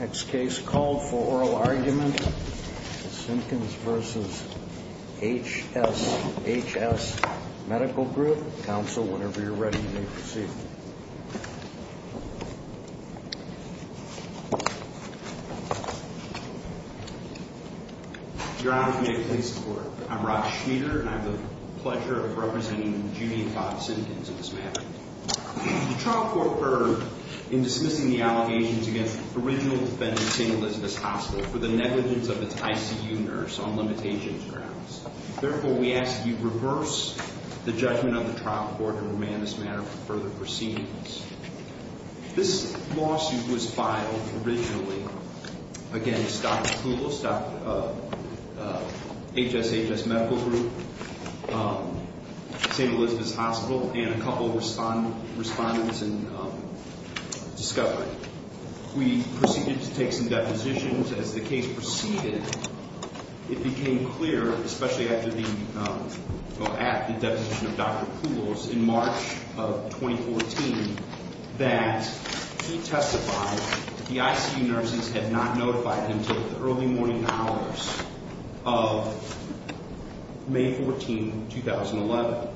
Next case called for oral argument, the Simpkins v. HSHS Medical Group. Counsel, whenever you're ready, may proceed. Your Honor, can I please report? I'm Rod Schmieder, and I have the pleasure of representing Judy and Bob Simpkins in this matter. The trial court occurred in dismissing the allegations against the original defendant, St. Elizabeth's Hospital, for the negligence of its ICU nurse on limitations grounds. Therefore, we ask that you reverse the judgment of the trial court and remand this matter for further proceedings. This lawsuit was filed originally against Dr. Poulos, HSHS Medical Group, St. Elizabeth's Hospital, and a couple of respondents in Discovery. We proceeded to take some depositions. As the case proceeded, it became clear, especially at the deposition of Dr. Poulos in March of 2014, that he testified that the ICU nurses had not notified him until the early morning hours of May 14, 2011,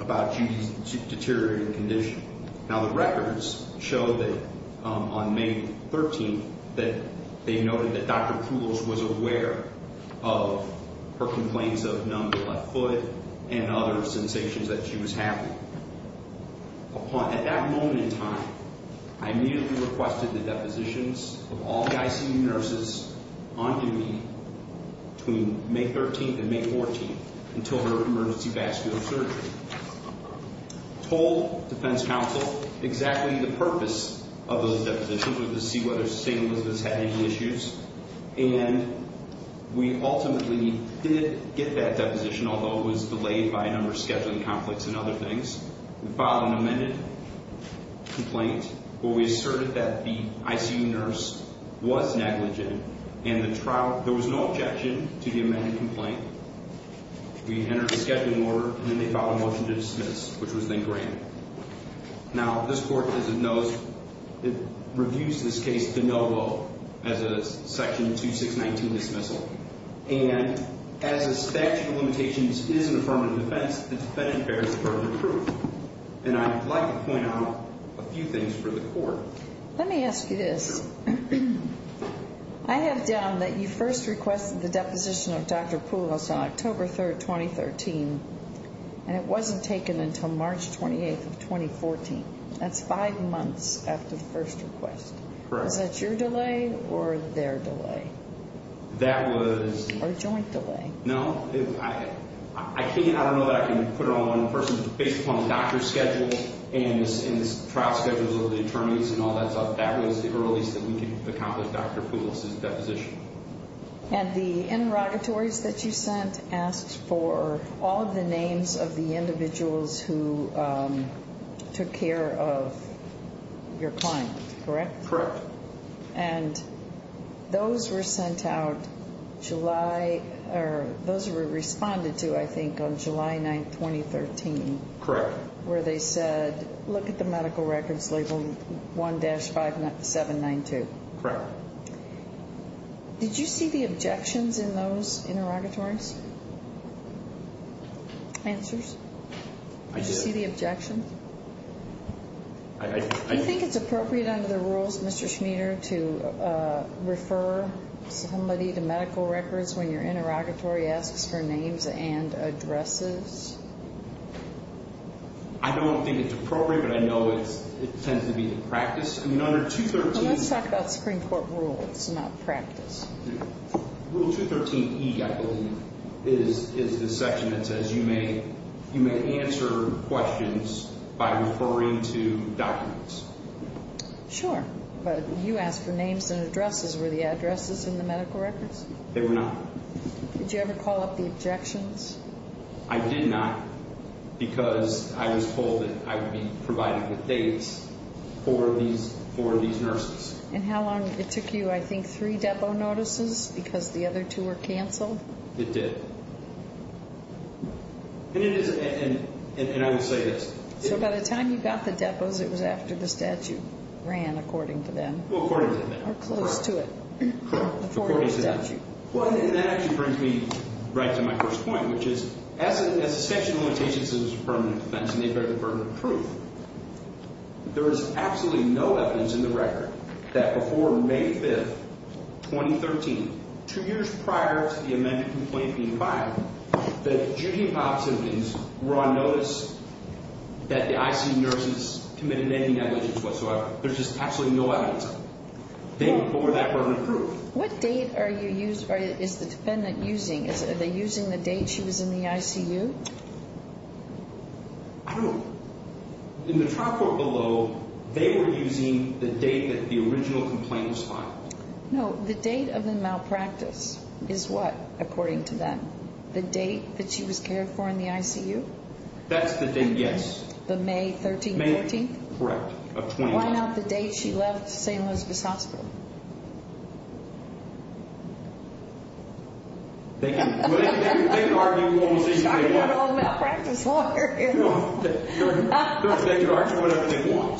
about Judy's deteriorating condition. Now, the records show that on May 13, that they noted that Dr. Poulos was aware of her complaints of numb to the left foot and other sensations that she was having. At that moment in time, I immediately requested the depositions of all the ICU nurses on Judy between May 13 and May 14 until her emergency vascular surgery. I told defense counsel exactly the purpose of those depositions, which was to see whether St. Elizabeth's had any issues. And we ultimately did get that deposition, although it was delayed by a number of scheduling conflicts and other things. We filed an amended complaint where we asserted that the ICU nurse was negligent, and there was no objection to the amended complaint. We entered a scheduling order, and then they filed a motion to dismiss, which was then granted. Now, this court, as it knows, reviews this case de novo as a Section 2619 dismissal. And as a statute of limitations is an affirmative defense, the defendant bears the burden of proof. And I'd like to point out a few things for the court. Let me ask you this. I have down that you first requested the deposition of Dr. Poulos on October 3, 2013, and it wasn't taken until March 28, 2014. That's five months after the first request. Correct. Was that your delay or their delay? That was... Or joint delay. No. I can't, I don't know that I can put it on one person, but based upon the doctor's schedule and the trial schedule of the attorneys and all that stuff, that was the earliest that we could accomplish Dr. Poulos' deposition. And the interrogatories that you sent asked for all of the names of the individuals who took care of your client, correct? Correct. And those were sent out July, or those were responded to, I think, on July 9, 2013. Correct. Where they said, look at the medical records labeled 1-5792. Correct. Did you see the objections in those interrogatories? Answers? I did. Did you see the objections? I... Do you think it's appropriate under the rules, Mr. Schmieder, to refer somebody to medical records when your interrogatory asks for names and addresses? I don't think it's appropriate, but I know it tends to be the practice. I mean, under 213... Well, let's talk about Supreme Court rules, not practice. Rule 213E, I believe, is the section that says you may answer questions by referring to documents. Sure. But you asked for names and addresses. Were the addresses in the medical records? They were not. Did you ever call up the objections? I did not because I was told that I would be provided with dates for these nurses. And how long? It took you, I think, three depo notices because the other two were canceled? It did. And it is... And I will say this. So by the time you got the depos, it was after the statute ran, according to them. Well, according to them. Or close to it. According to them. According to the statute. Well, and that actually brings me right to my first point, which is, as a section limitations is a permanent offense and they bear the burden of truth, there is absolutely no evidence in the record that before May 5th, 2013, two years prior to the amended complaint being filed, that Judy Hopps' symptoms were on notice that the ICU nurses committed any negligence whatsoever. There's just absolutely no evidence of it. They bore that burden of proof. What date are you using, or is the defendant using? Are they using the date she was in the ICU? I don't know. In the trial court below, they were using the date that the original complaint was filed. No. The date of the malpractice is what, according to them? The date that she was cared for in the ICU? That's the date, yes. The May 13th, 14th? May, correct. Why not the date she left St. Elizabeth's Hospital? Thank you. They can argue whatever they want. I can go to a malpractice lawyer. They can argue whatever they want.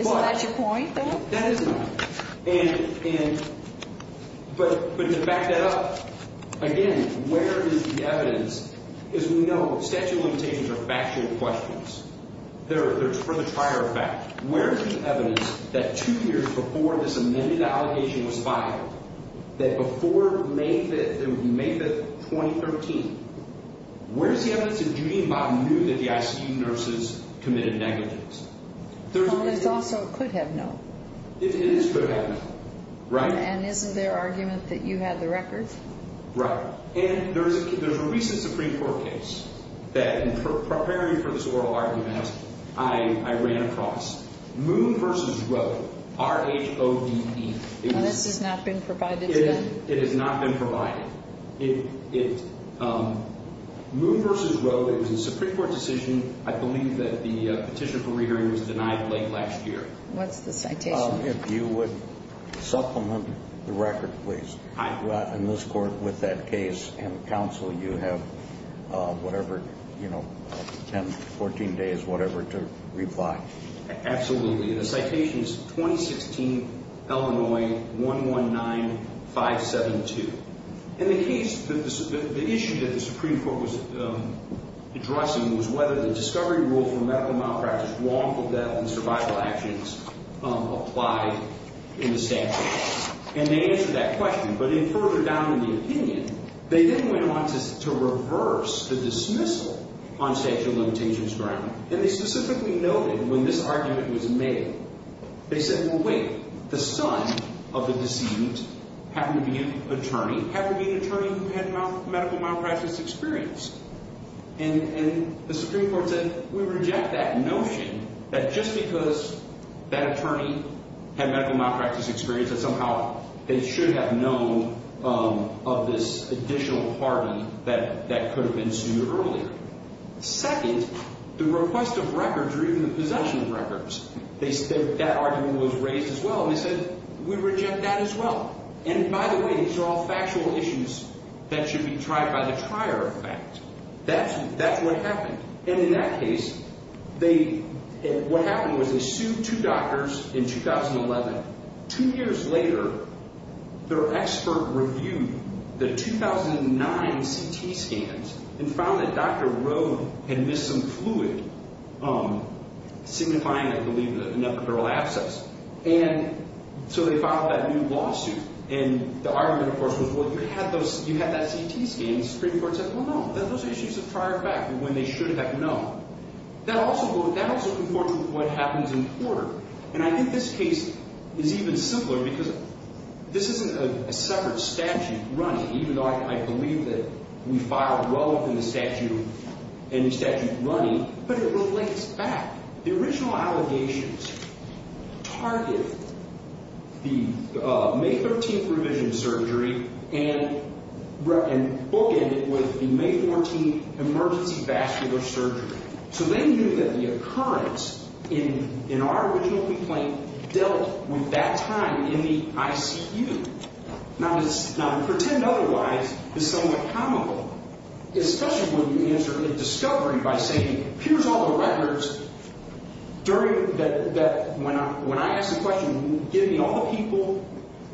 Isn't that your point, though? That is my point. But to back that up, again, where is the evidence? As we know, statute limitations are factual questions. They're for the prior fact. Where is the evidence that two years before this amended allegation was filed, that before May 5th, May 5th, 2013, where is the evidence that Judy and Bob knew that the ICU nurses committed negligence? Well, it's also could have known. It is could have known, right? And isn't there argument that you had the records? Right. And there's a recent Supreme Court case that, in preparing for this oral argument, I ran across. Moon v. Rowe, R-H-O-D-E. This has not been provided yet? It has not been provided. Moon v. Rowe, it was a Supreme Court decision. I believe that the petition for re-hearing was denied late last year. What's the citation? If you would supplement the record, please. In this court, with that case and counsel, you have whatever, 10, 14 days, whatever, to reply. Absolutely. The citation is 2016, Illinois, 119572. In the case, the issue that the Supreme Court was addressing was whether the discovery rule for medical malpractice, lawful death, and survival actions applied in the statute. And they answered that question. But further down in the opinion, they then went on to reverse the dismissal on statute of limitations ground. And they specifically noted, when this argument was made, they said, well, wait. The son of the deceased happened to be an attorney who had medical malpractice experience. And the Supreme Court said, we reject that notion that just because that attorney had medical malpractice experience, that somehow they should have known of this additional party that could have been sued earlier. Second, the request of records or even the possession of records, that argument was raised as well. And they said, we reject that as well. And by the way, these are all factual issues that should be tried by the trier of facts. That's what happened. And in that case, what happened was they sued two doctors in 2011. Two years later, their expert reviewed the 2009 CT scans and found that Dr. Rowe had missed some fluid, signifying, I believe, an epidural abscess. And so they filed that new lawsuit. And the argument, of course, was, well, you had that CT scan. The Supreme Court said, well, no. Those are issues of trier of fact. When they should have known. That also conformed with what happens in court. And I think this case is even simpler because this isn't a separate statute running, even though I believe that we filed well within the statute and the statute running. But it relates back. The original allegations target the May 13th revision surgery and bookend it with the May 14th emergency vascular surgery. So they knew that the occurrence in our original complaint dealt with that time in the ICU. Now, to pretend otherwise is somewhat comical, especially when you answer a discovery by saying, here's all the records. When I ask the question, give me all the people,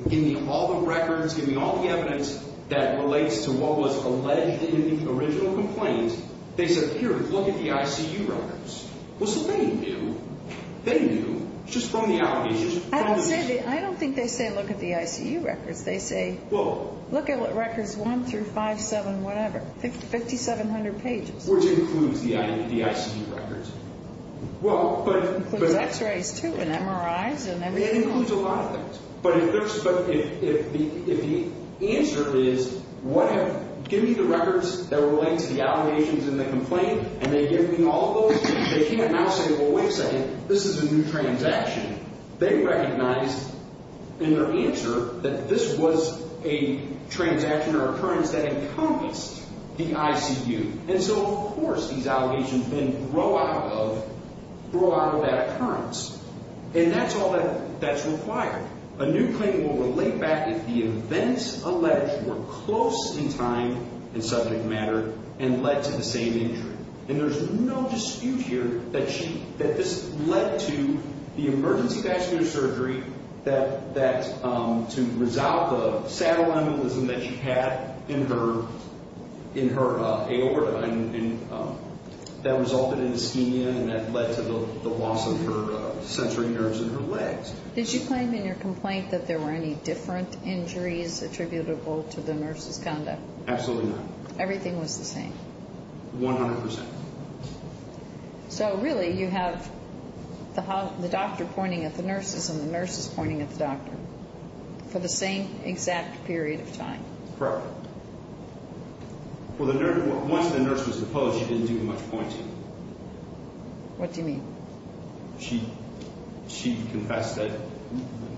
give me all the records, give me all the evidence that relates to what was alleged in the original complaint, they said, here, look at the ICU records. Well, so they knew. They knew just from the allegations. I don't think they say, look at the ICU records. They say, look at what records one through five, seven, whatever, 5,700 pages. Which includes the ICU records. It includes x-rays, too, and MRIs, and everything else. It includes a lot of things. But if the answer is, give me the records that relate to the allegations in the complaint, and they give me all of those, they can't now say, well, wait a second, this is a new transaction. They recognize in their answer that this was a transaction or occurrence that encompassed the ICU. And so, of course, these allegations then grow out of that occurrence. And that's all that's required. A new claim will relate back if the events alleged were close in time and subject matter and led to the same injury. And there's no dispute here that this led to the emergency vascular surgery to resolve the saddle aneurysm that she had in her aorta. And that resulted in ischemia, and that led to the loss of her sensory nerves in her legs. Did you claim in your complaint that there were any different injuries attributable to the nurse's conduct? Absolutely not. Everything was the same? 100%. So, really, you have the doctor pointing at the nurses and the nurses pointing at the doctor for the same exact period of time? Correct. Once the nurse was deposed, she didn't do much pointing. What do you mean? She confessed that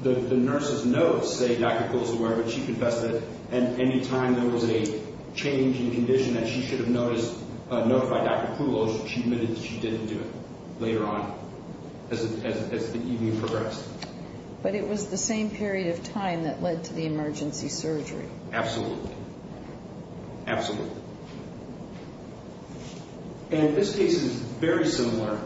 the nurses know, say, Dr. Coles is aware, but she confessed that any time there was a change in condition that she should have notified Dr. Coles, she admitted that she didn't do it later on as the evening progressed. But it was the same period of time that led to the emergency surgery? Absolutely. Absolutely. And this case is very similar.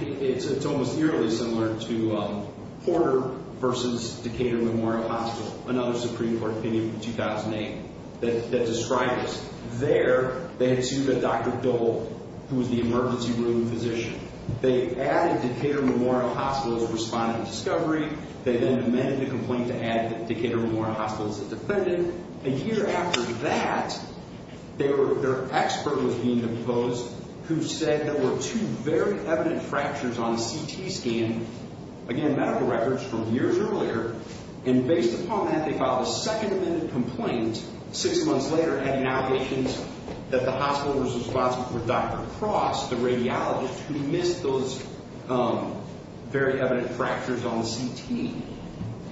It's almost eerily similar to Porter v. Decatur Memorial Hospital, another Supreme Court opinion from 2008 that described this. There, they had sued a Dr. Dole, who was the emergency room physician. They added Decatur Memorial Hospital's respondent to discovery. They then amended the complaint to add Decatur Memorial Hospital's defendant. A year after that, their expert was being deposed, who said there were two very evident fractures on the CT scan, again, medical records from years earlier. And based upon that, they filed a second amended complaint six months later adding allegations that the hospital's respondent was Dr. Cross, the radiologist, who missed those very evident fractures on the CT.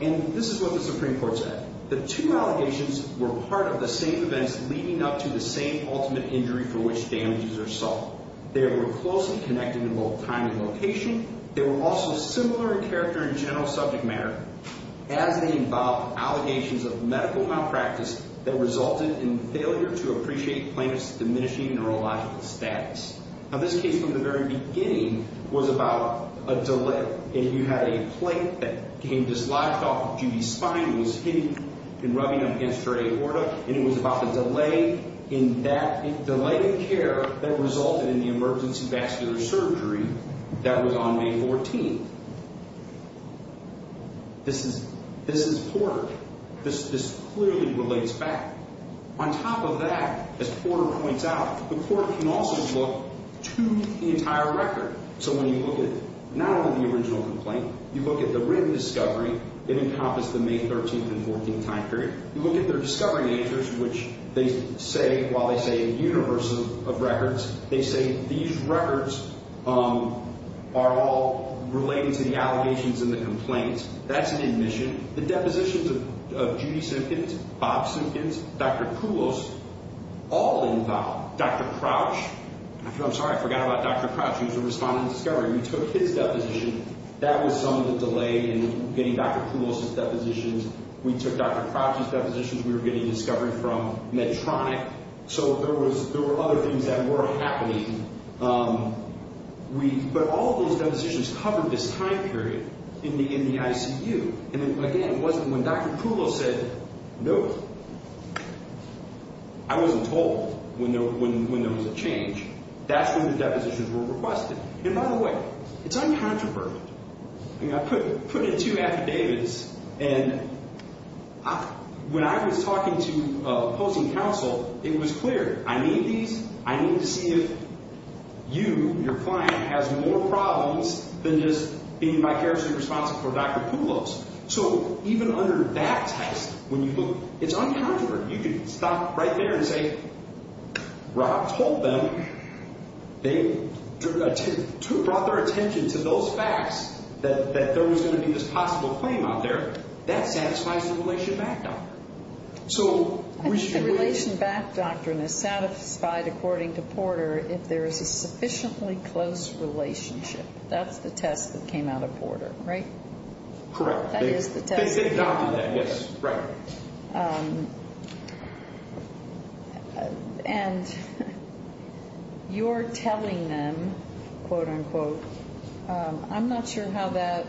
And this is what the Supreme Court said. The two allegations were part of the same events leading up to the same ultimate injury for which damages are solved. They were closely connected in both time and location. They were also similar in character and general subject matter as they involved allegations of medical malpractice that resulted in failure to appreciate plaintiff's diminishing neurological status. Now, this case from the very beginning was about a delay. And you had a plate that came dislodged off of Judy's spine. It was hidden and rubbing up against her aorta. And it was about the delay in that, the delay in care that resulted in the emergency vascular surgery that was on May 14th. This is Porter. This clearly relates back. On top of that, as Porter points out, the court can also look to the entire record. So when you look at not only the original complaint, you look at the written discovery that encompassed the May 13th and 14th time period, you look at their discovering answers, which they say, while they say a universe of records, they say these records are all related to the allegations in the complaint. That's an admission. The depositions of Judy Simpkins, Bob Simpkins, Dr. Kulos, all involved. Dr. Crouch, I'm sorry, I forgot about Dr. Crouch. He was the respondent in discovery. We took his deposition. That was some of the delay in getting Dr. Kulos' depositions. We took Dr. Crouch's depositions. We were getting discovery from Medtronic. So there were other things that were happening. But all of those depositions covered this time period in the ICU. And, again, it wasn't when Dr. Kulos said no. I wasn't told when there was a change. That's when the depositions were requested. And, by the way, it's uncontroversial. I mean, I put in two affidavits, and when I was talking to opposing counsel, it was clear. I need these. I need to see if you, your client, has more problems than just being vicariously responsible for Dr. Kulos. So even under that test, when you look, it's uncontroversial. You can stop right there and say, Rob told them, they brought their attention to those facts that there was going to be this possible claim out there. That satisfies the relation back doctrine. I think the relation back doctrine is satisfied, according to Porter, if there is a sufficiently close relationship. That's the test that came out of Porter, right? Correct. That is the test. They adopted that, yes. Right. And you're telling them, quote unquote, I'm not sure how that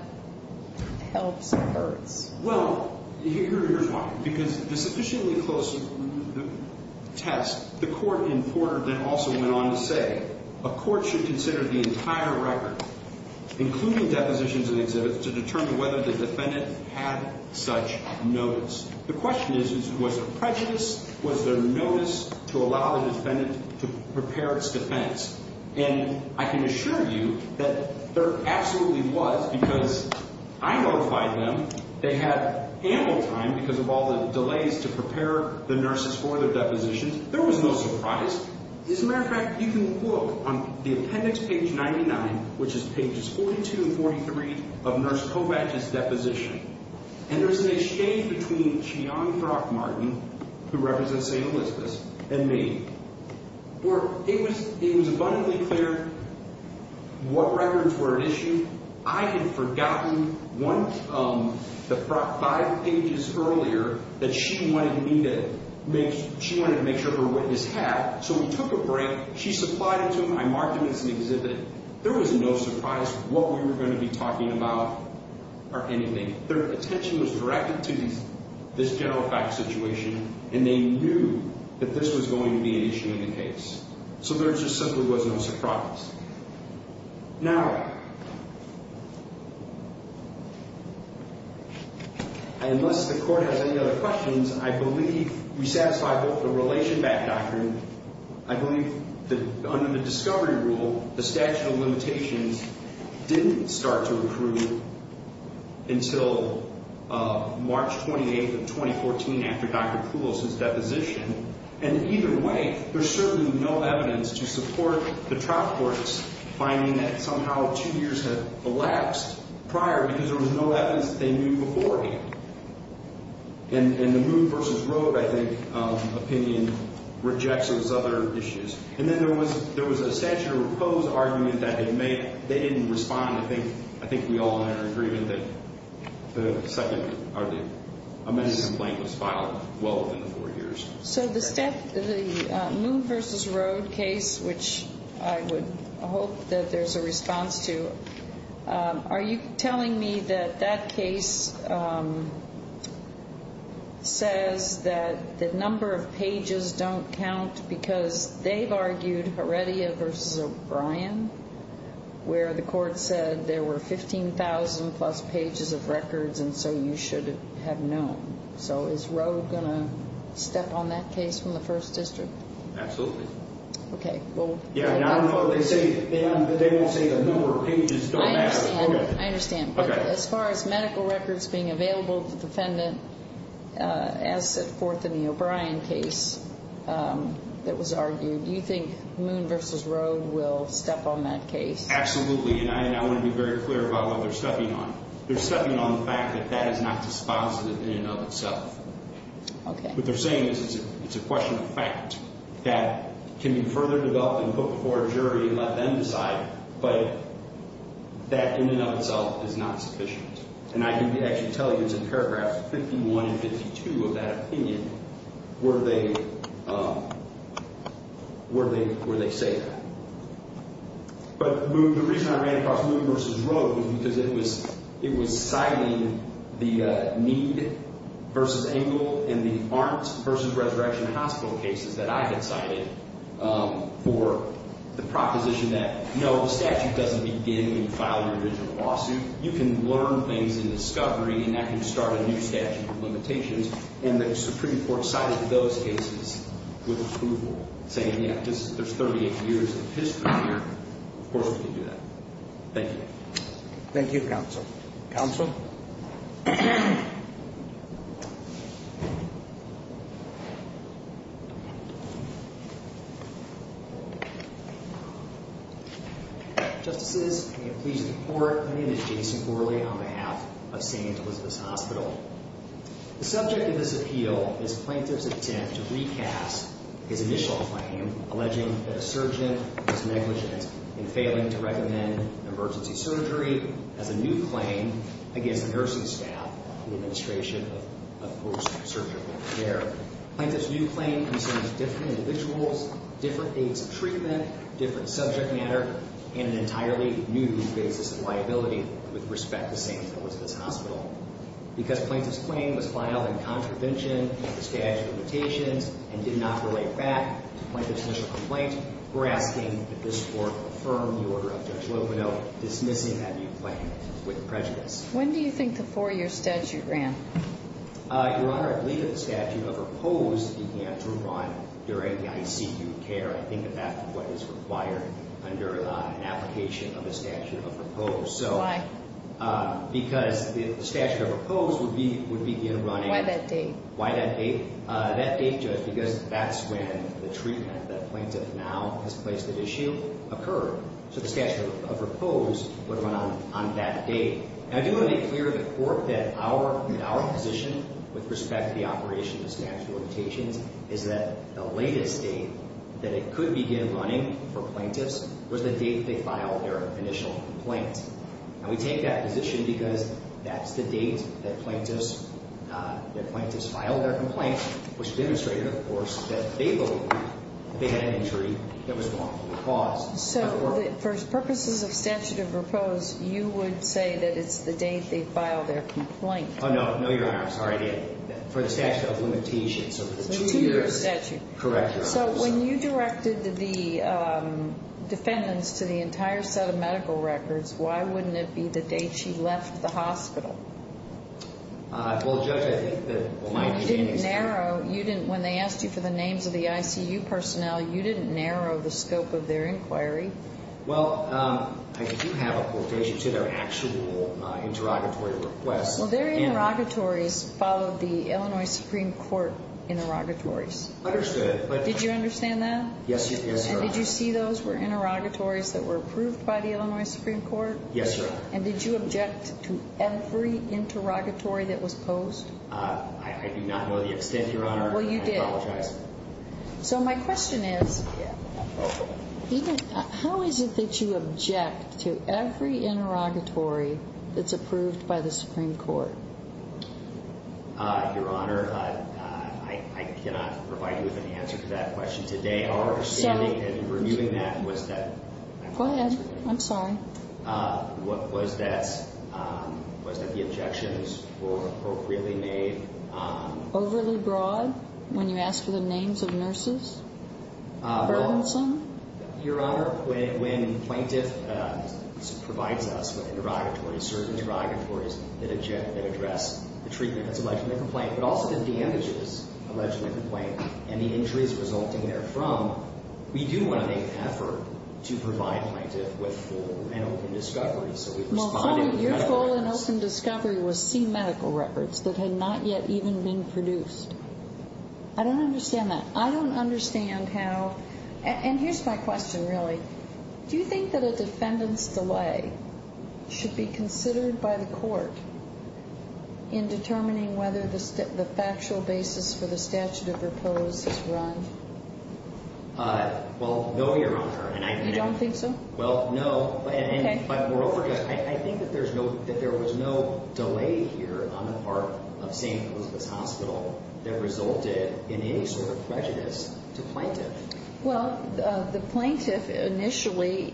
helps or hurts. Well, here's why. Because the sufficiently close test, the court in Porter then also went on to say, a court should consider the entire record, including depositions and exhibits, to determine whether the defendant had such notice. The question is, was there prejudice? Was there notice to allow the defendant to prepare its defense? And I can assure you that there absolutely was, because I notified them they had ample time, because of all the delays to prepare the nurses for their depositions. There was no surprise. As a matter of fact, you can look on the appendix page 99, which is pages 42 and 43 of Nurse Kovatch's deposition, and there's an exchange between Cheyenne Brock-Martin, who represents St. Elizabeth's, and me. It was abundantly clear what records were at issue. I had forgotten the five pages earlier that she wanted me to make sure her witness had, so we took a break. She supplied it to me. I marked it as an exhibit. There was no surprise what we were going to be talking about or anything. Their attention was directed to this general facts situation, and they knew that this was going to be an issue in the case, so there just simply was no surprise. Now, unless the court has any other questions, I believe we satisfy both the relation back doctrine. I believe that under the discovery rule, the statute of limitations didn't start to approve until March 28th of 2014 after Dr. Poulos' deposition, and either way there's certainly no evidence to support the trial court's finding that somehow two years had elapsed prior because there was no evidence that they knew beforehand. And the Moon v. Road, I think, opinion rejects those other issues. And then there was a statute of repose argument that they didn't respond. I think we all had our agreement that the second or the amendment complaint was filed well within the four years. So the Moon v. Road case, which I would hope that there's a response to, are you telling me that that case says that the number of pages don't count because they've argued Heredia v. O'Brien where the court said there were 15,000-plus pages of records and so you should have known. So is Road going to step on that case from the First District? Absolutely. Okay. They won't say the number of pages don't matter. I understand. Okay. As far as medical records being available to the defendant, as set forth in the O'Brien case that was argued, do you think Moon v. Road will step on that case? Absolutely, and I want to be very clear about what they're stepping on. They're stepping on the fact that that is not dispositive in and of itself. Okay. What they're saying is it's a question of fact that can be further developed and put before a jury and let them decide, but that in and of itself is not sufficient. And I can actually tell you it's in paragraphs 51 and 52 of that opinion where they say that. But the reason I ran across Moon v. Road was because it was citing the need versus Engle and the Arntz v. Resurrection Hospital cases that I had cited for the proposition that, no, the statute doesn't begin when you file your original lawsuit. You can learn things in discovery and that can start a new statute of limitations, and the Supreme Court cited those cases with approval, saying, yeah, there's 38 years of history here. Of course we can do that. Thank you. Thank you, Counsel. Counsel? Thank you. Justices, may it please the Court, my name is Jason Corley on behalf of St. Elizabeth's Hospital. The subject of this appeal is Plaintiff's attempt to recast his initial claim, alleging that a surgeon was negligent in failing to recommend emergency surgery as a new claim against the nursing staff of the Administration of Post-Surgical Care. Plaintiff's new claim concerns different individuals, different aides of treatment, different subject matter, and an entirely new basis of liability with respect to St. Elizabeth's Hospital. Because Plaintiff's claim was filed in contravention of the statute of limitations and did not relate back to Plaintiff's initial complaint, we're asking that this Court affirm the order of Judge Loveno dismissing that new claim with prejudice. When do you think the four-year statute ran? Your Honor, I believe that the statute of repose began to run during the ICU care. I think that that's what is required under an application of a statute of repose. Why? Because the statute of repose would begin running... Why that date? That date, Judge, because that's when the treatment that Plaintiff now has placed at issue occurred. So the statute of repose would run on that date. I do want to make clear to the Court that our position with respect to the operation of the statute of limitations is that the latest date that it could begin running for Plaintiffs was the date they filed their initial complaint. And we take that position because that's the date that Plaintiffs filed their complaint, which demonstrated, of course, that they believed that they had an injury that was wrongfully caused. So for purposes of statute of repose, you would say that it's the date they filed their complaint? Oh, no. No, Your Honor. I'm sorry. For the statute of limitations. So the two-year statute. Correct, Your Honor. So when you directed the defendants to the entire set of medical records, why wouldn't it be the date she left the hospital? Well, Judge, I think that my opinion is... You didn't narrow. When they asked you for the names of the ICU personnel, you didn't narrow the scope of their inquiry. Well, I do have a quotation to their actual interrogatory requests. Well, their interrogatories followed the Illinois Supreme Court interrogatories. Understood. Did you understand that? Yes, Your Honor. And did you see those were interrogatories that were approved by the Illinois Supreme Court? Yes, Your Honor. And did you object to every interrogatory that was posed? I do not know the extent, Your Honor. Well, you did. I apologize. So my question is, how is it that you object to every interrogatory that's approved by the Supreme Court? Your Honor, I cannot provide you with an answer to that question today. Our understanding in reviewing that was that... Go ahead. I'm sorry. Was that the objections were appropriately made? Overly broad when you asked for the names of nurses? Fergenson? Your Honor, when plaintiff provides us with interrogatories, certain interrogatories that address the treatment that's alleged in the complaint, but also the damages alleged in the complaint and the injuries resulting therefrom, we do want to make an effort to provide plaintiff with full and open discovery. So we responded with medical records. Your full and open discovery was C medical records that had not yet even been produced. I don't understand that. I don't understand how – and here's my question, really. Do you think that a defendant's delay should be considered by the court in determining whether the factual basis for the statute of repose is run? Well, no, Your Honor. You don't think so? Well, no. Okay. But moreover, I think that there was no delay here on the part of St. Elizabeth's Hospital that resulted in any sort of prejudice to plaintiff. Well, the plaintiff initially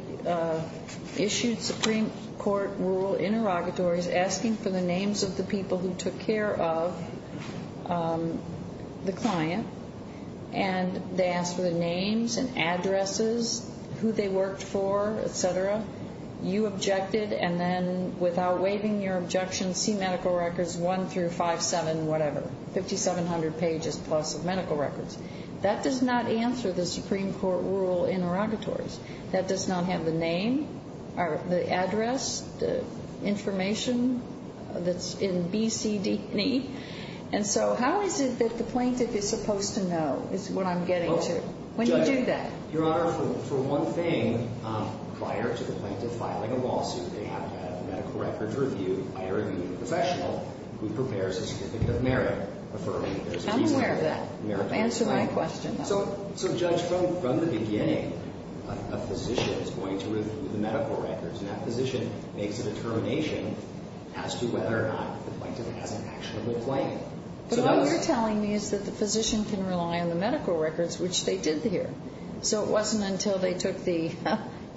issued Supreme Court rule interrogatories asking for the names of the people who took care of the client, and they asked for the names and addresses, who they worked for, et cetera. You objected, and then without waiving your objection, C medical records 1 through 5-7, whatever, 5,700 pages-plus of medical records. That does not answer the Supreme Court rule interrogatories. That does not have the name or the address, the information that's in B, C, D, E. And so how is it that the plaintiff is supposed to know is what I'm getting to? When do you do that? Your Honor, for one thing, prior to the plaintiff filing a lawsuit, they have to have a medical records review by a reviewed professional who prepares a certificate of merit. I'm aware of that. Answer my question, though. So, Judge, from the beginning, a physician is going to review the medical records, and that physician makes a determination as to whether or not the plaintiff has an actual complaint. But what you're telling me is that the physician can rely on the medical records, which they did here. So it wasn't until they took the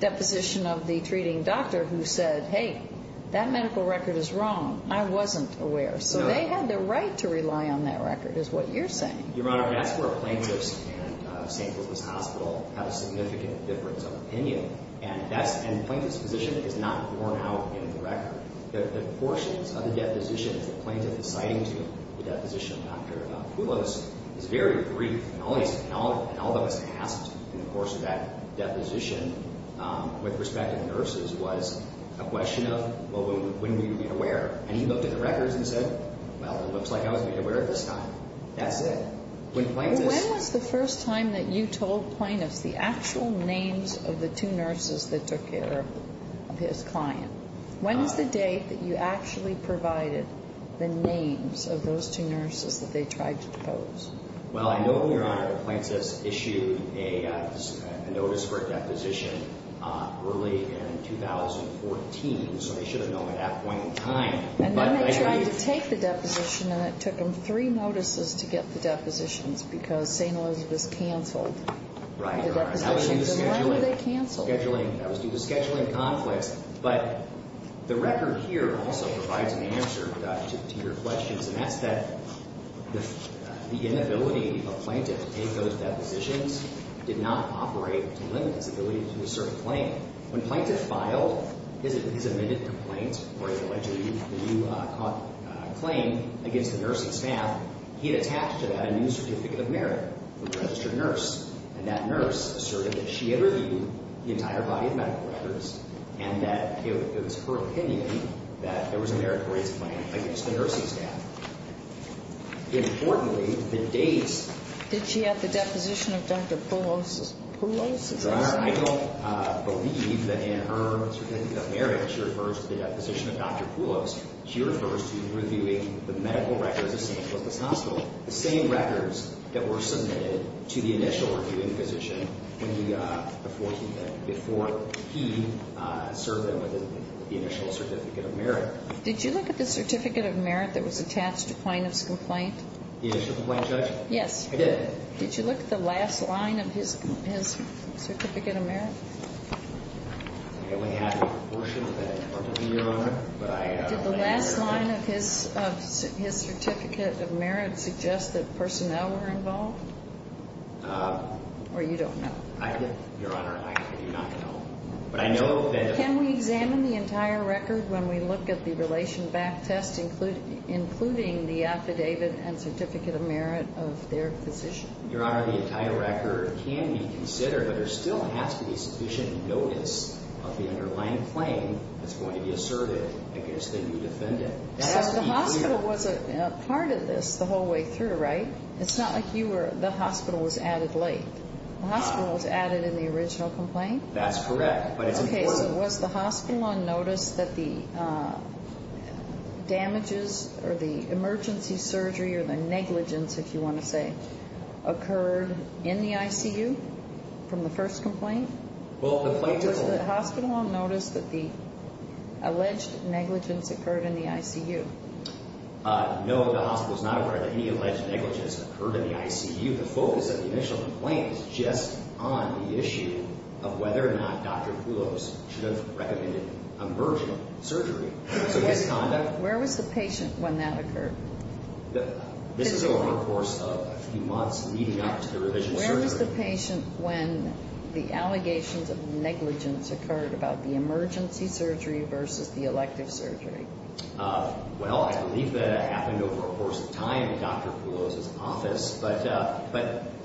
deposition of the treating doctor who said, hey, that medical record is wrong. I wasn't aware. No. So they had the right to rely on that record, is what you're saying. Your Honor, that's where plaintiffs and St. Louis Hospital have a significant difference of opinion. And plaintiff's position is not borne out in the record. The portions of the deposition that the plaintiff is citing to the deposition of Dr. Poulos is very brief. And all that was asked in the course of that deposition with respect to the nurses was a question of, well, when were you made aware? And he looked at the records and said, well, it looks like I was made aware at this time. That's it. When was the first time that you told plaintiffs the actual names of the two nurses that took care of his client? When was the date that you actually provided the names of those two nurses that they tried to depose? Well, I know, Your Honor, that plaintiffs issued a notice for a deposition early in 2014. So they should have known at that point in time. And then they tried to take the deposition, and it took them three notices to get the depositions because St. Louis was canceled. Right. The deposition was canceled. That was due to scheduling conflicts. But the record here also provides an answer to your question. And that's that the inability of a plaintiff to take those depositions did not operate to limit his ability to assert a claim. When a plaintiff filed his amended complaint or his allegedly new claim against the nursing staff, he had attached to that a new certificate of merit from the registered nurse. And that nurse asserted that she had reviewed the entire body of medical records and that it was her opinion that there was a merit for his claim against the nursing staff. Importantly, the dates — Did she have the deposition of Dr. Pelosi? Pelosi? I don't believe that in her certificate of merit, she refers to the deposition of Dr. Pelosi. She refers to reviewing the medical records of St. Louis Hospital, the same records that were submitted to the initial reviewing physician before he served them with the initial certificate of merit. Did you look at the certificate of merit that was attached to plaintiff's complaint? The initial complaint, Judge? Yes. I did. Did you look at the last line of his certificate of merit? I only have a portion of it. Did the last line of his certificate of merit suggest that personnel were involved? Or you don't know? Your Honor, I do not know. Can we examine the entire record when we look at the relation back test, including the affidavit and certificate of merit of their physician? Your Honor, the entire record can be considered, but there still has to be sufficient notice of the underlying claim that's going to be asserted against the new defendant. So the hospital was a part of this the whole way through, right? It's not like the hospital was added late. The hospital was added in the original complaint? That's correct. Okay, so was the hospital on notice that the damages or the emergency surgery or the negligence, if you want to say, occurred in the ICU from the first complaint? Was the hospital on notice that the alleged negligence occurred in the ICU? No, the hospital was not aware that any alleged negligence occurred in the ICU. The focus of the initial complaint is just on the issue of whether or not Dr. Poulos should have recommended emergency surgery. Where was the patient when that occurred? This is over the course of a few months leading up to the revision surgery. Where was the patient when the allegations of negligence occurred about the emergency surgery versus the elective surgery? Well, I believe that it happened over the course of time in Dr. Poulos' office.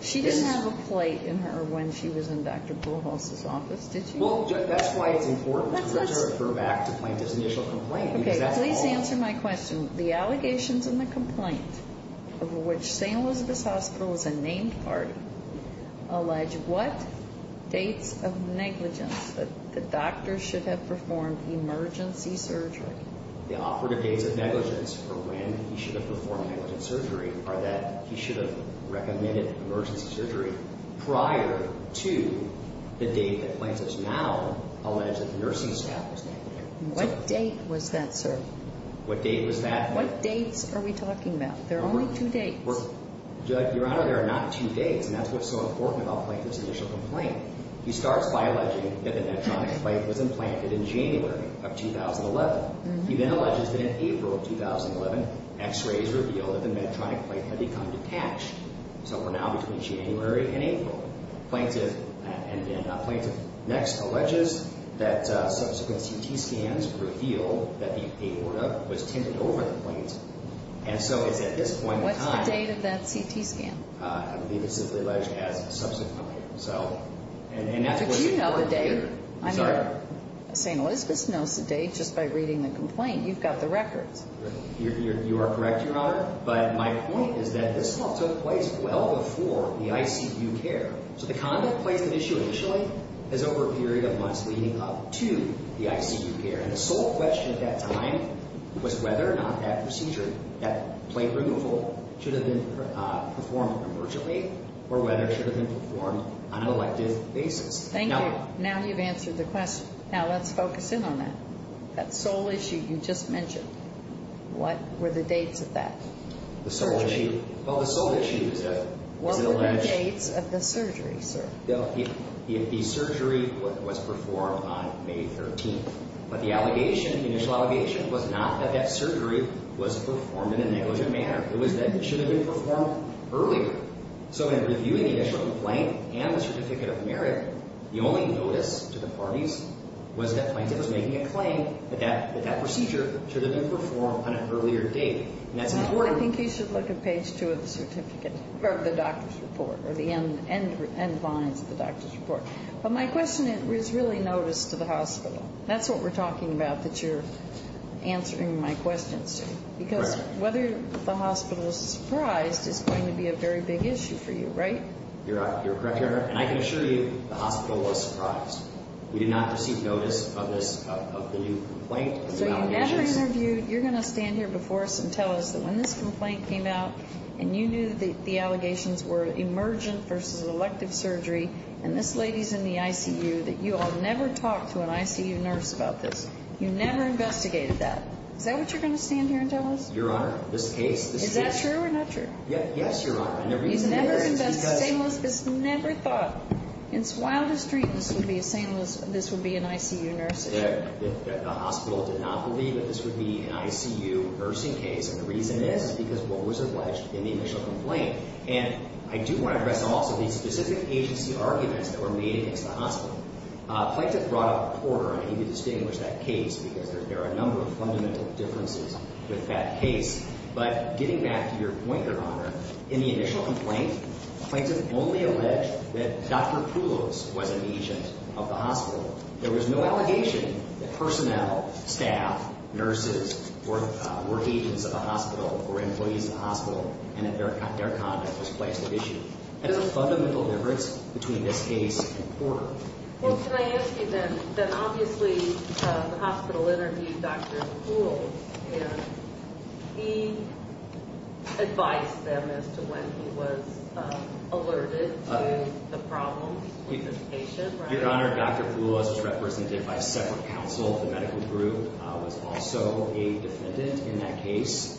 She didn't have a plate in her when she was in Dr. Poulos' office, did she? Well, that's why it's important to refer back to plaintiff's initial complaint. Okay, please answer my question. The allegations in the complaint over which St. Elizabeth's Hospital is a named party allege what dates of negligence that the doctor should have performed emergency surgery? The operative dates of negligence for when he should have performed negligent surgery are that he should have recommended emergency surgery prior to the date that plaintiffs now allege that the nursing staff was negligent. What date was that, sir? What date was that? What dates are we talking about? There are only two dates. Your Honor, there are not two dates, and that's what's so important about plaintiff's initial complaint. He starts by alleging that the medtronic plate was implanted in January of 2011. He then alleges that in April of 2011, x-rays revealed that the medtronic plate had become detached. So we're now between January and April. Plaintiff next alleges that subsequent CT scans revealed that the aorta was tended over the plate. What's the date of that CT scan? I believe it's simply alleged as subsequent. But you know the date. I'm sorry? St. Elizabeth's knows the date just by reading the complaint. You've got the records. You are correct, Your Honor. But my point is that this all took place well before the ICU care. So the conduct placed at issue initially is over a period of months leading up to the ICU care. And the sole question at that time was whether or not that procedure, that plate removal, should have been performed emergently or whether it should have been performed on an elective basis. Thank you. Now you've answered the question. Now let's focus in on that. That sole issue you just mentioned, what were the dates of that? The sole issue? Well, the sole issue is that it was alleged. What were the dates of the surgery, sir? The surgery was performed on May 13th. But the allegation, the initial allegation, was not that that surgery was performed in a negligent manner. It was that it should have been performed earlier. So in reviewing the initial complaint and the certificate of merit, the only notice to the parties was that plaintiff was making a claim that that procedure should have been performed on an earlier date. And that's important. I think you should look at page 2 of the certificate, or the doctor's report, or the end lines of the doctor's report. But my question is really notice to the hospital. That's what we're talking about that you're answering my question, sir. Correct. Because whether the hospital is surprised is going to be a very big issue for you, right? You're correct, Your Honor. And I can assure you the hospital was surprised. We did not receive notice of this, of the new complaint. So you never interviewed. You're going to stand here before us and tell us that when this complaint came out and you knew that the allegations were emergent versus elective surgery, and this lady's in the ICU, that you all never talked to an ICU nurse about this. You never investigated that. Is that what you're going to stand here and tell us? Your Honor, this case. Is that true or not true? Yes, Your Honor. I never even heard it. You never investigated. St. Louis has never thought. It's wild as street. This would be a St. Louis. This would be an ICU nurse. The hospital did not believe that this would be an ICU nursing case. And the reason is because what was alleged in the initial complaint. And I do want to address also the specific agency arguments that were made against the hospital. Plaintiff brought up Porter, and I need to distinguish that case because there are a number of fundamental differences with that case. But getting back to your point, Your Honor, in the initial complaint, plaintiff only alleged that Dr. Poulos was an agent of the hospital. There was no allegation that personnel, staff, nurses were agents of the hospital or employees of the hospital and that their conduct was placed at issue. That is a fundamental difference between this case and Porter. Well, can I ask you then, then obviously the hospital interviewed Dr. Poulos and he advised them as to when he was alerted to the problem with this patient, right? Your Honor, Dr. Poulos was represented by separate counsel. The medical group was also a defendant in that case.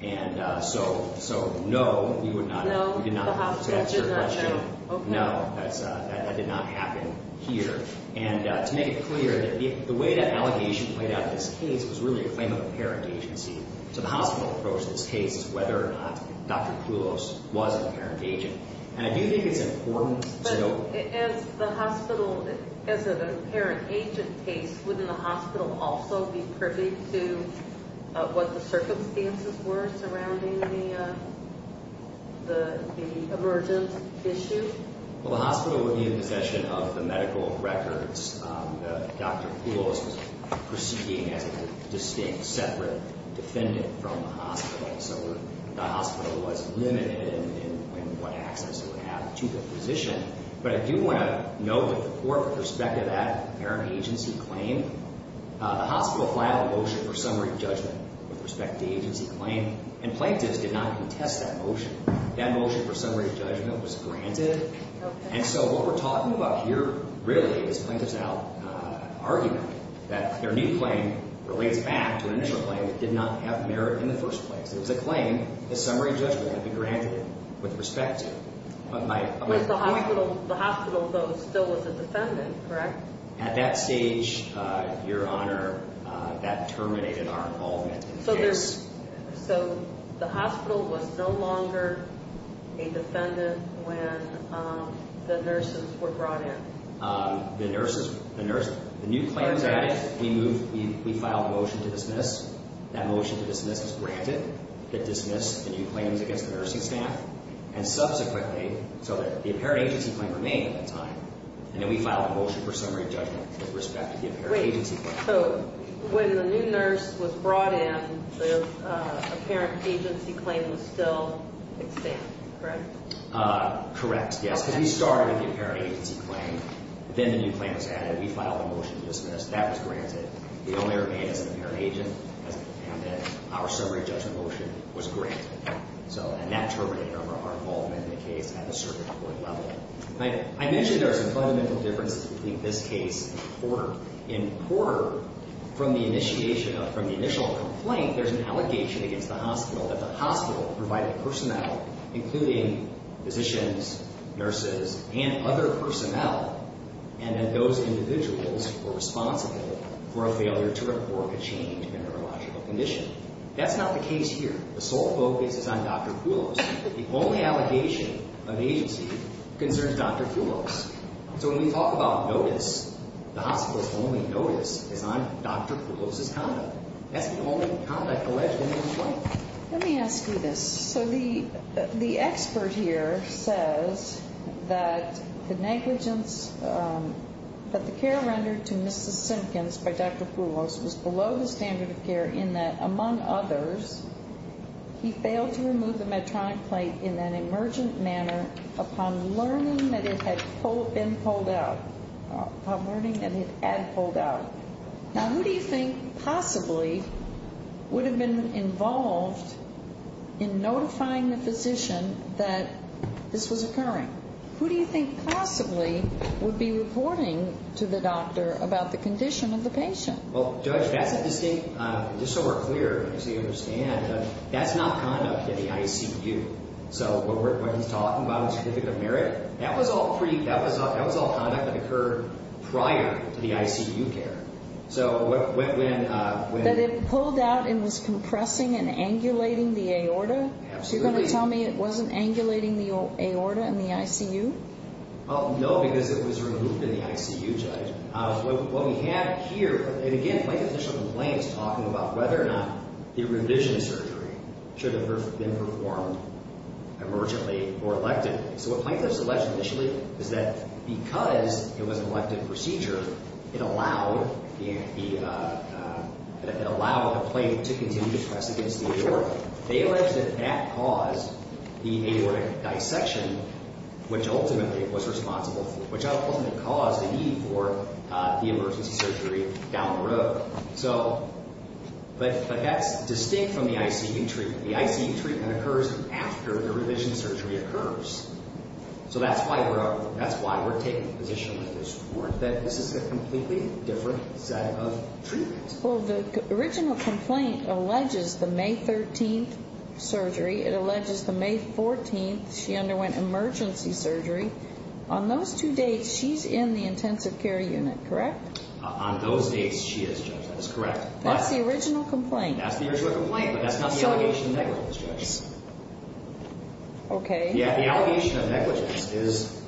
And so no, you did not have to answer the question. No, that did not happen here. And to make it clear, the way that allegation played out in this case was really a claim of apparent agency to the hospital approach in this case as to whether or not Dr. Poulos was an apparent agent. And I do think it's important to know. But as the hospital, as an apparent agent case, wouldn't the hospital also be privy to what the circumstances were surrounding the emergent issue? Well, the hospital would be in possession of the medical records. Dr. Poulos was proceeding as a distinct, separate defendant from the hospital. So the hospital was limited in what access it would have to the physician. But I do want to note that the court, with respect to that apparent agency claim, the hospital filed a motion for summary judgment with respect to the agency claim. And plaintiffs did not contest that motion. That motion for summary judgment was granted. And so what we're talking about here really is plaintiffs' argument that their new claim relates back to an initial claim that did not have merit in the first place. It was a claim. The summary judgment had to be granted with respect to it. But the hospital, though, still was a defendant, correct? At that stage, Your Honor, that terminated our involvement in the case. So the hospital was no longer a defendant when the nurses were brought in? The new claim was added. We filed a motion to dismiss. That motion to dismiss was granted. It dismissed the new claims against the nursing staff. And subsequently, so the apparent agency claim remained at that time. And then we filed a motion for summary judgment with respect to the apparent agency claim. Wait. So when the new nurse was brought in, the apparent agency claim was still extinct, correct? Correct, yes. Because we started with the apparent agency claim. Then the new claim was added. We filed a motion to dismiss. That was granted. The only remain as an apparent agent as a defendant. Our summary judgment motion was granted. And that terminated our involvement in the case at the circuit court level. I mentioned there are some fundamental differences between this case and Porter. In Porter, from the initial complaint, there's an allegation against the hospital providing personnel, including physicians, nurses, and other personnel. And that those individuals were responsible for a failure to report a change in a neurological condition. That's not the case here. The sole focus is on Dr. Poulos. The only allegation of the agency concerns Dr. Poulos. So when we talk about notice, the hospital's only notice is on Dr. Poulos' conduct. That's the only conduct alleged in the complaint. Let me ask you this. So the expert here says that the negligence that the care rendered to Mrs. Simpkins by Dr. Poulos was below the standard of care in that, among others, he failed to remove the Medtronic plate in an emergent manner upon learning that it had been pulled out. Upon learning that it had pulled out. Now, who do you think possibly would have been involved in notifying the physician that this was occurring? Who do you think possibly would be reporting to the doctor about the condition of the patient? Well, Judge, that's a distinct, just so we're clear, so you understand, that's not conduct at the ICU. So what he's talking about, the certificate of merit, that was all conduct that occurred prior to the ICU care. So when... That it pulled out and was compressing and angulating the aorta? Absolutely. So you're going to tell me it wasn't angulating the aorta in the ICU? No, because it was removed in the ICU, Judge. What we have here, and again, Plaintiff's initial complaint is talking about whether or not the revision surgery should have been performed emergently or electively. So what Plaintiff's alleged initially is that because it was an elective procedure, it allowed the plane to continue to press against the aorta. They alleged that that caused the aortic dissection, which ultimately it was responsible for, which ultimately caused the need for the emergency surgery down the road. So, but that's distinct from the ICU treatment. The ICU treatment occurs after the revision surgery occurs. So that's why we're taking a position with this court that this is a completely different set of treatments. Well, the original complaint alleges the May 13th surgery. It alleges the May 14th she underwent emergency surgery. On those two dates, she's in the intensive care unit, correct? On those dates, she is, Judge, that is correct. That's the original complaint? That's the original complaint, but that's not the allegation that negligence, Judge. Okay. Yeah, the allegation of negligence is,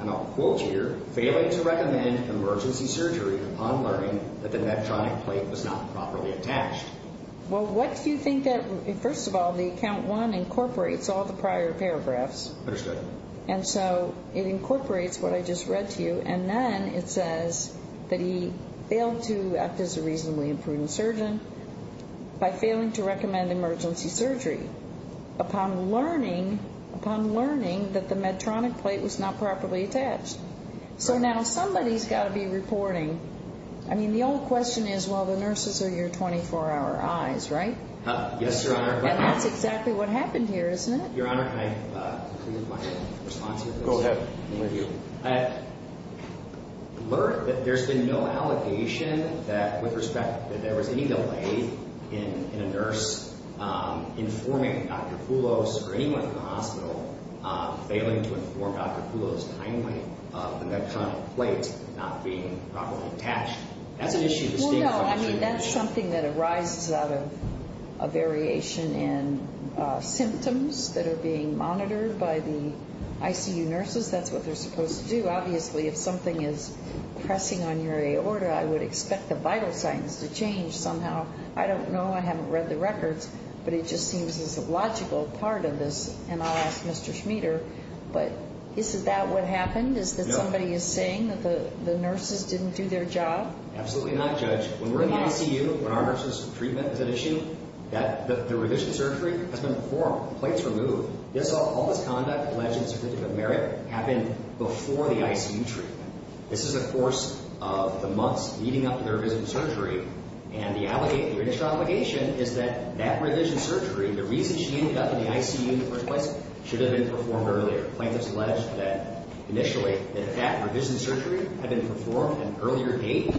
and I'll quote here, failing to recommend emergency surgery upon learning that the neptronic plate was not properly attached. Well, what do you think that, first of all, the Account 1 incorporates all the prior paragraphs. Understood. And so it incorporates what I just read to you, and then it says that he failed to act as a reasonably imprudent surgeon by failing to recommend emergency surgery upon learning that the neptronic plate was not properly attached. So now somebody's got to be reporting. I mean, the old question is, well, the nurses are your 24-hour eyes, right? Yes, Your Honor. And that's exactly what happened here, isn't it? Your Honor, can I conclude my response here? Go ahead. Learned that there's been no allegation that, with respect, that there was any delay in a nurse informing Dr. Poulos or anyone in the hospital of failing to inform Dr. Poulos kindly of the neptronic plate not being properly attached. That's an issue the state comes to. Well, no, I mean, that's something that arises out of a variation in symptoms that are being monitored by the ICU nurses. That's what they're supposed to do. Obviously, if something is pressing on your aorta, I would expect the vital signs to change somehow. I don't know. I haven't read the records, but it just seems as a logical part of this. And I'll ask Mr. Schmieder, but is that what happened, is that somebody is saying that the nurses didn't do their job? Absolutely not, Judge. When we're in the ICU, when our nurses' treatment is an issue, that the revision surgery has been performed, plates removed. All this conduct alleged in the Certificate of Merit happened before the ICU treatment. This is a course of the months leading up to the revision surgery, and the initial allegation is that that revision surgery, the reason she didn't get to the ICU in the first place, should have been performed earlier. Plaintiffs alleged that initially that if that revision surgery had been performed an earlier date,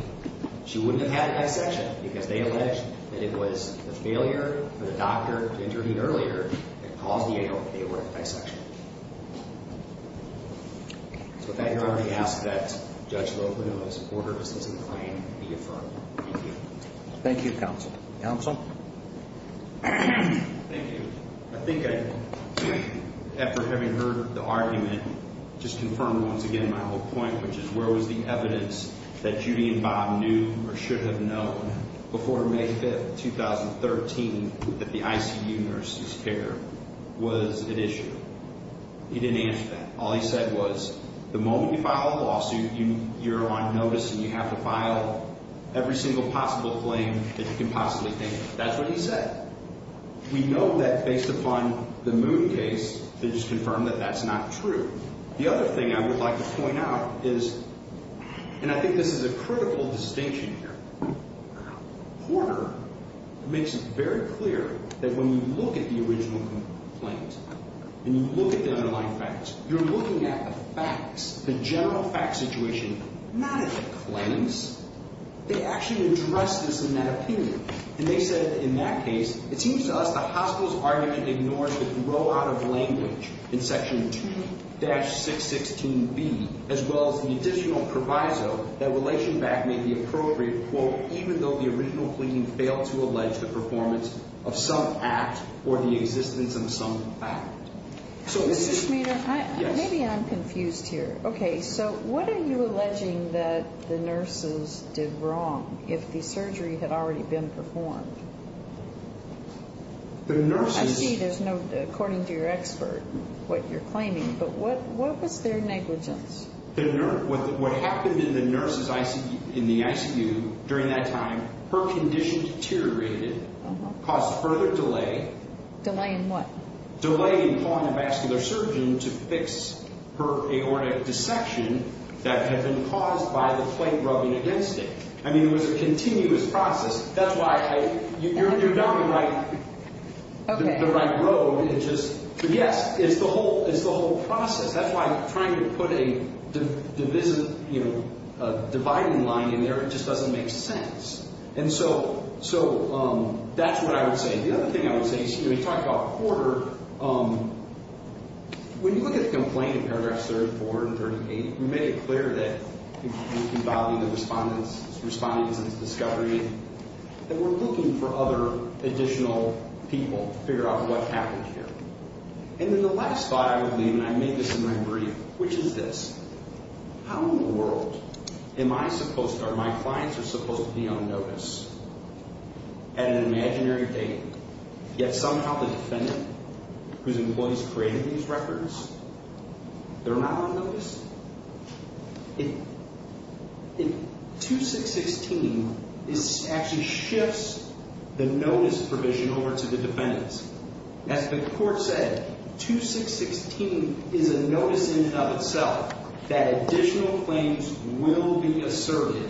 she wouldn't have had a dissection because they alleged that it was a failure for the doctor to intervene earlier that caused the aorta to be averted by dissection. So with that, Your Honor, I ask that Judge Locono's order of assistance claim be affirmed. Thank you. Thank you, Counsel. Counsel? Thank you. I think I, after having heard the argument, just confirmed once again my whole point, which is where was the evidence that Judy and Bob knew or should have known before May 5th, 2013, that the ICU nurses' care was an issue? He didn't answer that. All he said was the moment you file a lawsuit, you're on notice, and you have to file every single possible claim that you can possibly think of. That's what he said. We know that based upon the Moon case, it is confirmed that that's not true. The other thing I would like to point out is, and I think this is a critical distinction here, Horner makes it very clear that when you look at the original complaint and you look at the underlying facts, you're looking at the facts, the general fact situation, not at the claims. They actually addressed this in that opinion, and they said in that case, it seems to us the hospital's argument ignores the throwout of language in Section 2-616B, as well as the additional proviso that Relation Back may be appropriate, quote, even though the original claim failed to allege the performance of some act or the existence of some fact. Mrs. Schmader? Yes. Maybe I'm confused here. Okay, so what are you alleging that the nurses did wrong if the surgery had already been performed? I see there's no, according to your expert, what you're claiming, but what was their negligence? What happened in the ICU during that time, her condition deteriorated, caused further delay. Delay in what? That had been caused by the plate rubbing against it. I mean, it was a continuous process. That's why you're down the right road. Yes, it's the whole process. That's why trying to put a dividing line in there, it just doesn't make sense. And so that's what I would say. The other thing I would say, excuse me, talking about Porter, when you look at the complaint in paragraphs 34 and 38, you make it clear that you can violate the respondent's discovery, that we're looking for other additional people to figure out what happened here. And then the last thought I would leave, and I made this in my brief, which is this. How in the world am I supposed to, are my clients supposed to be on notice at an imaginary date, yet somehow the defendant, whose employees created these records, they're not on notice? 2616 actually shifts the notice provision over to the defendants. As the court said, 2616 is a notice in and of itself that additional claims will be asserted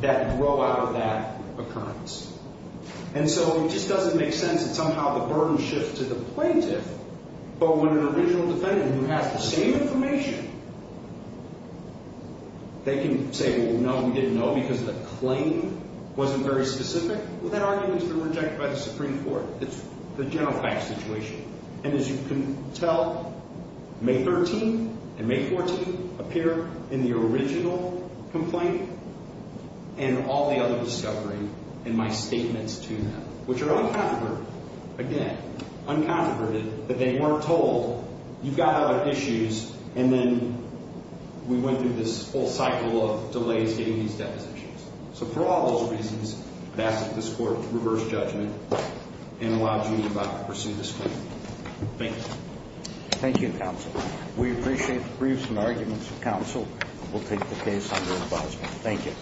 that grow out of that occurrence. And so it just doesn't make sense that somehow the burden shifts to the plaintiff, but when an original defendant who has the same information, they can say, well, no, we didn't know because the claim wasn't very specific. Well, that argument's been rejected by the Supreme Court. It's the general facts situation. And as you can tell, May 13th and May 14th appear in the original complaint and all the other discovery in my statements to them, which are uncontroverted. Again, uncontroverted that they weren't told, you've got other issues, and then we went through this whole cycle of delays getting these depositions. So for all those reasons, that's what this court reversed judgment and allowed you to pursue this claim. Thank you. Thank you, counsel. We appreciate the briefs and arguments of counsel. We'll take the case under advisement. Thank you.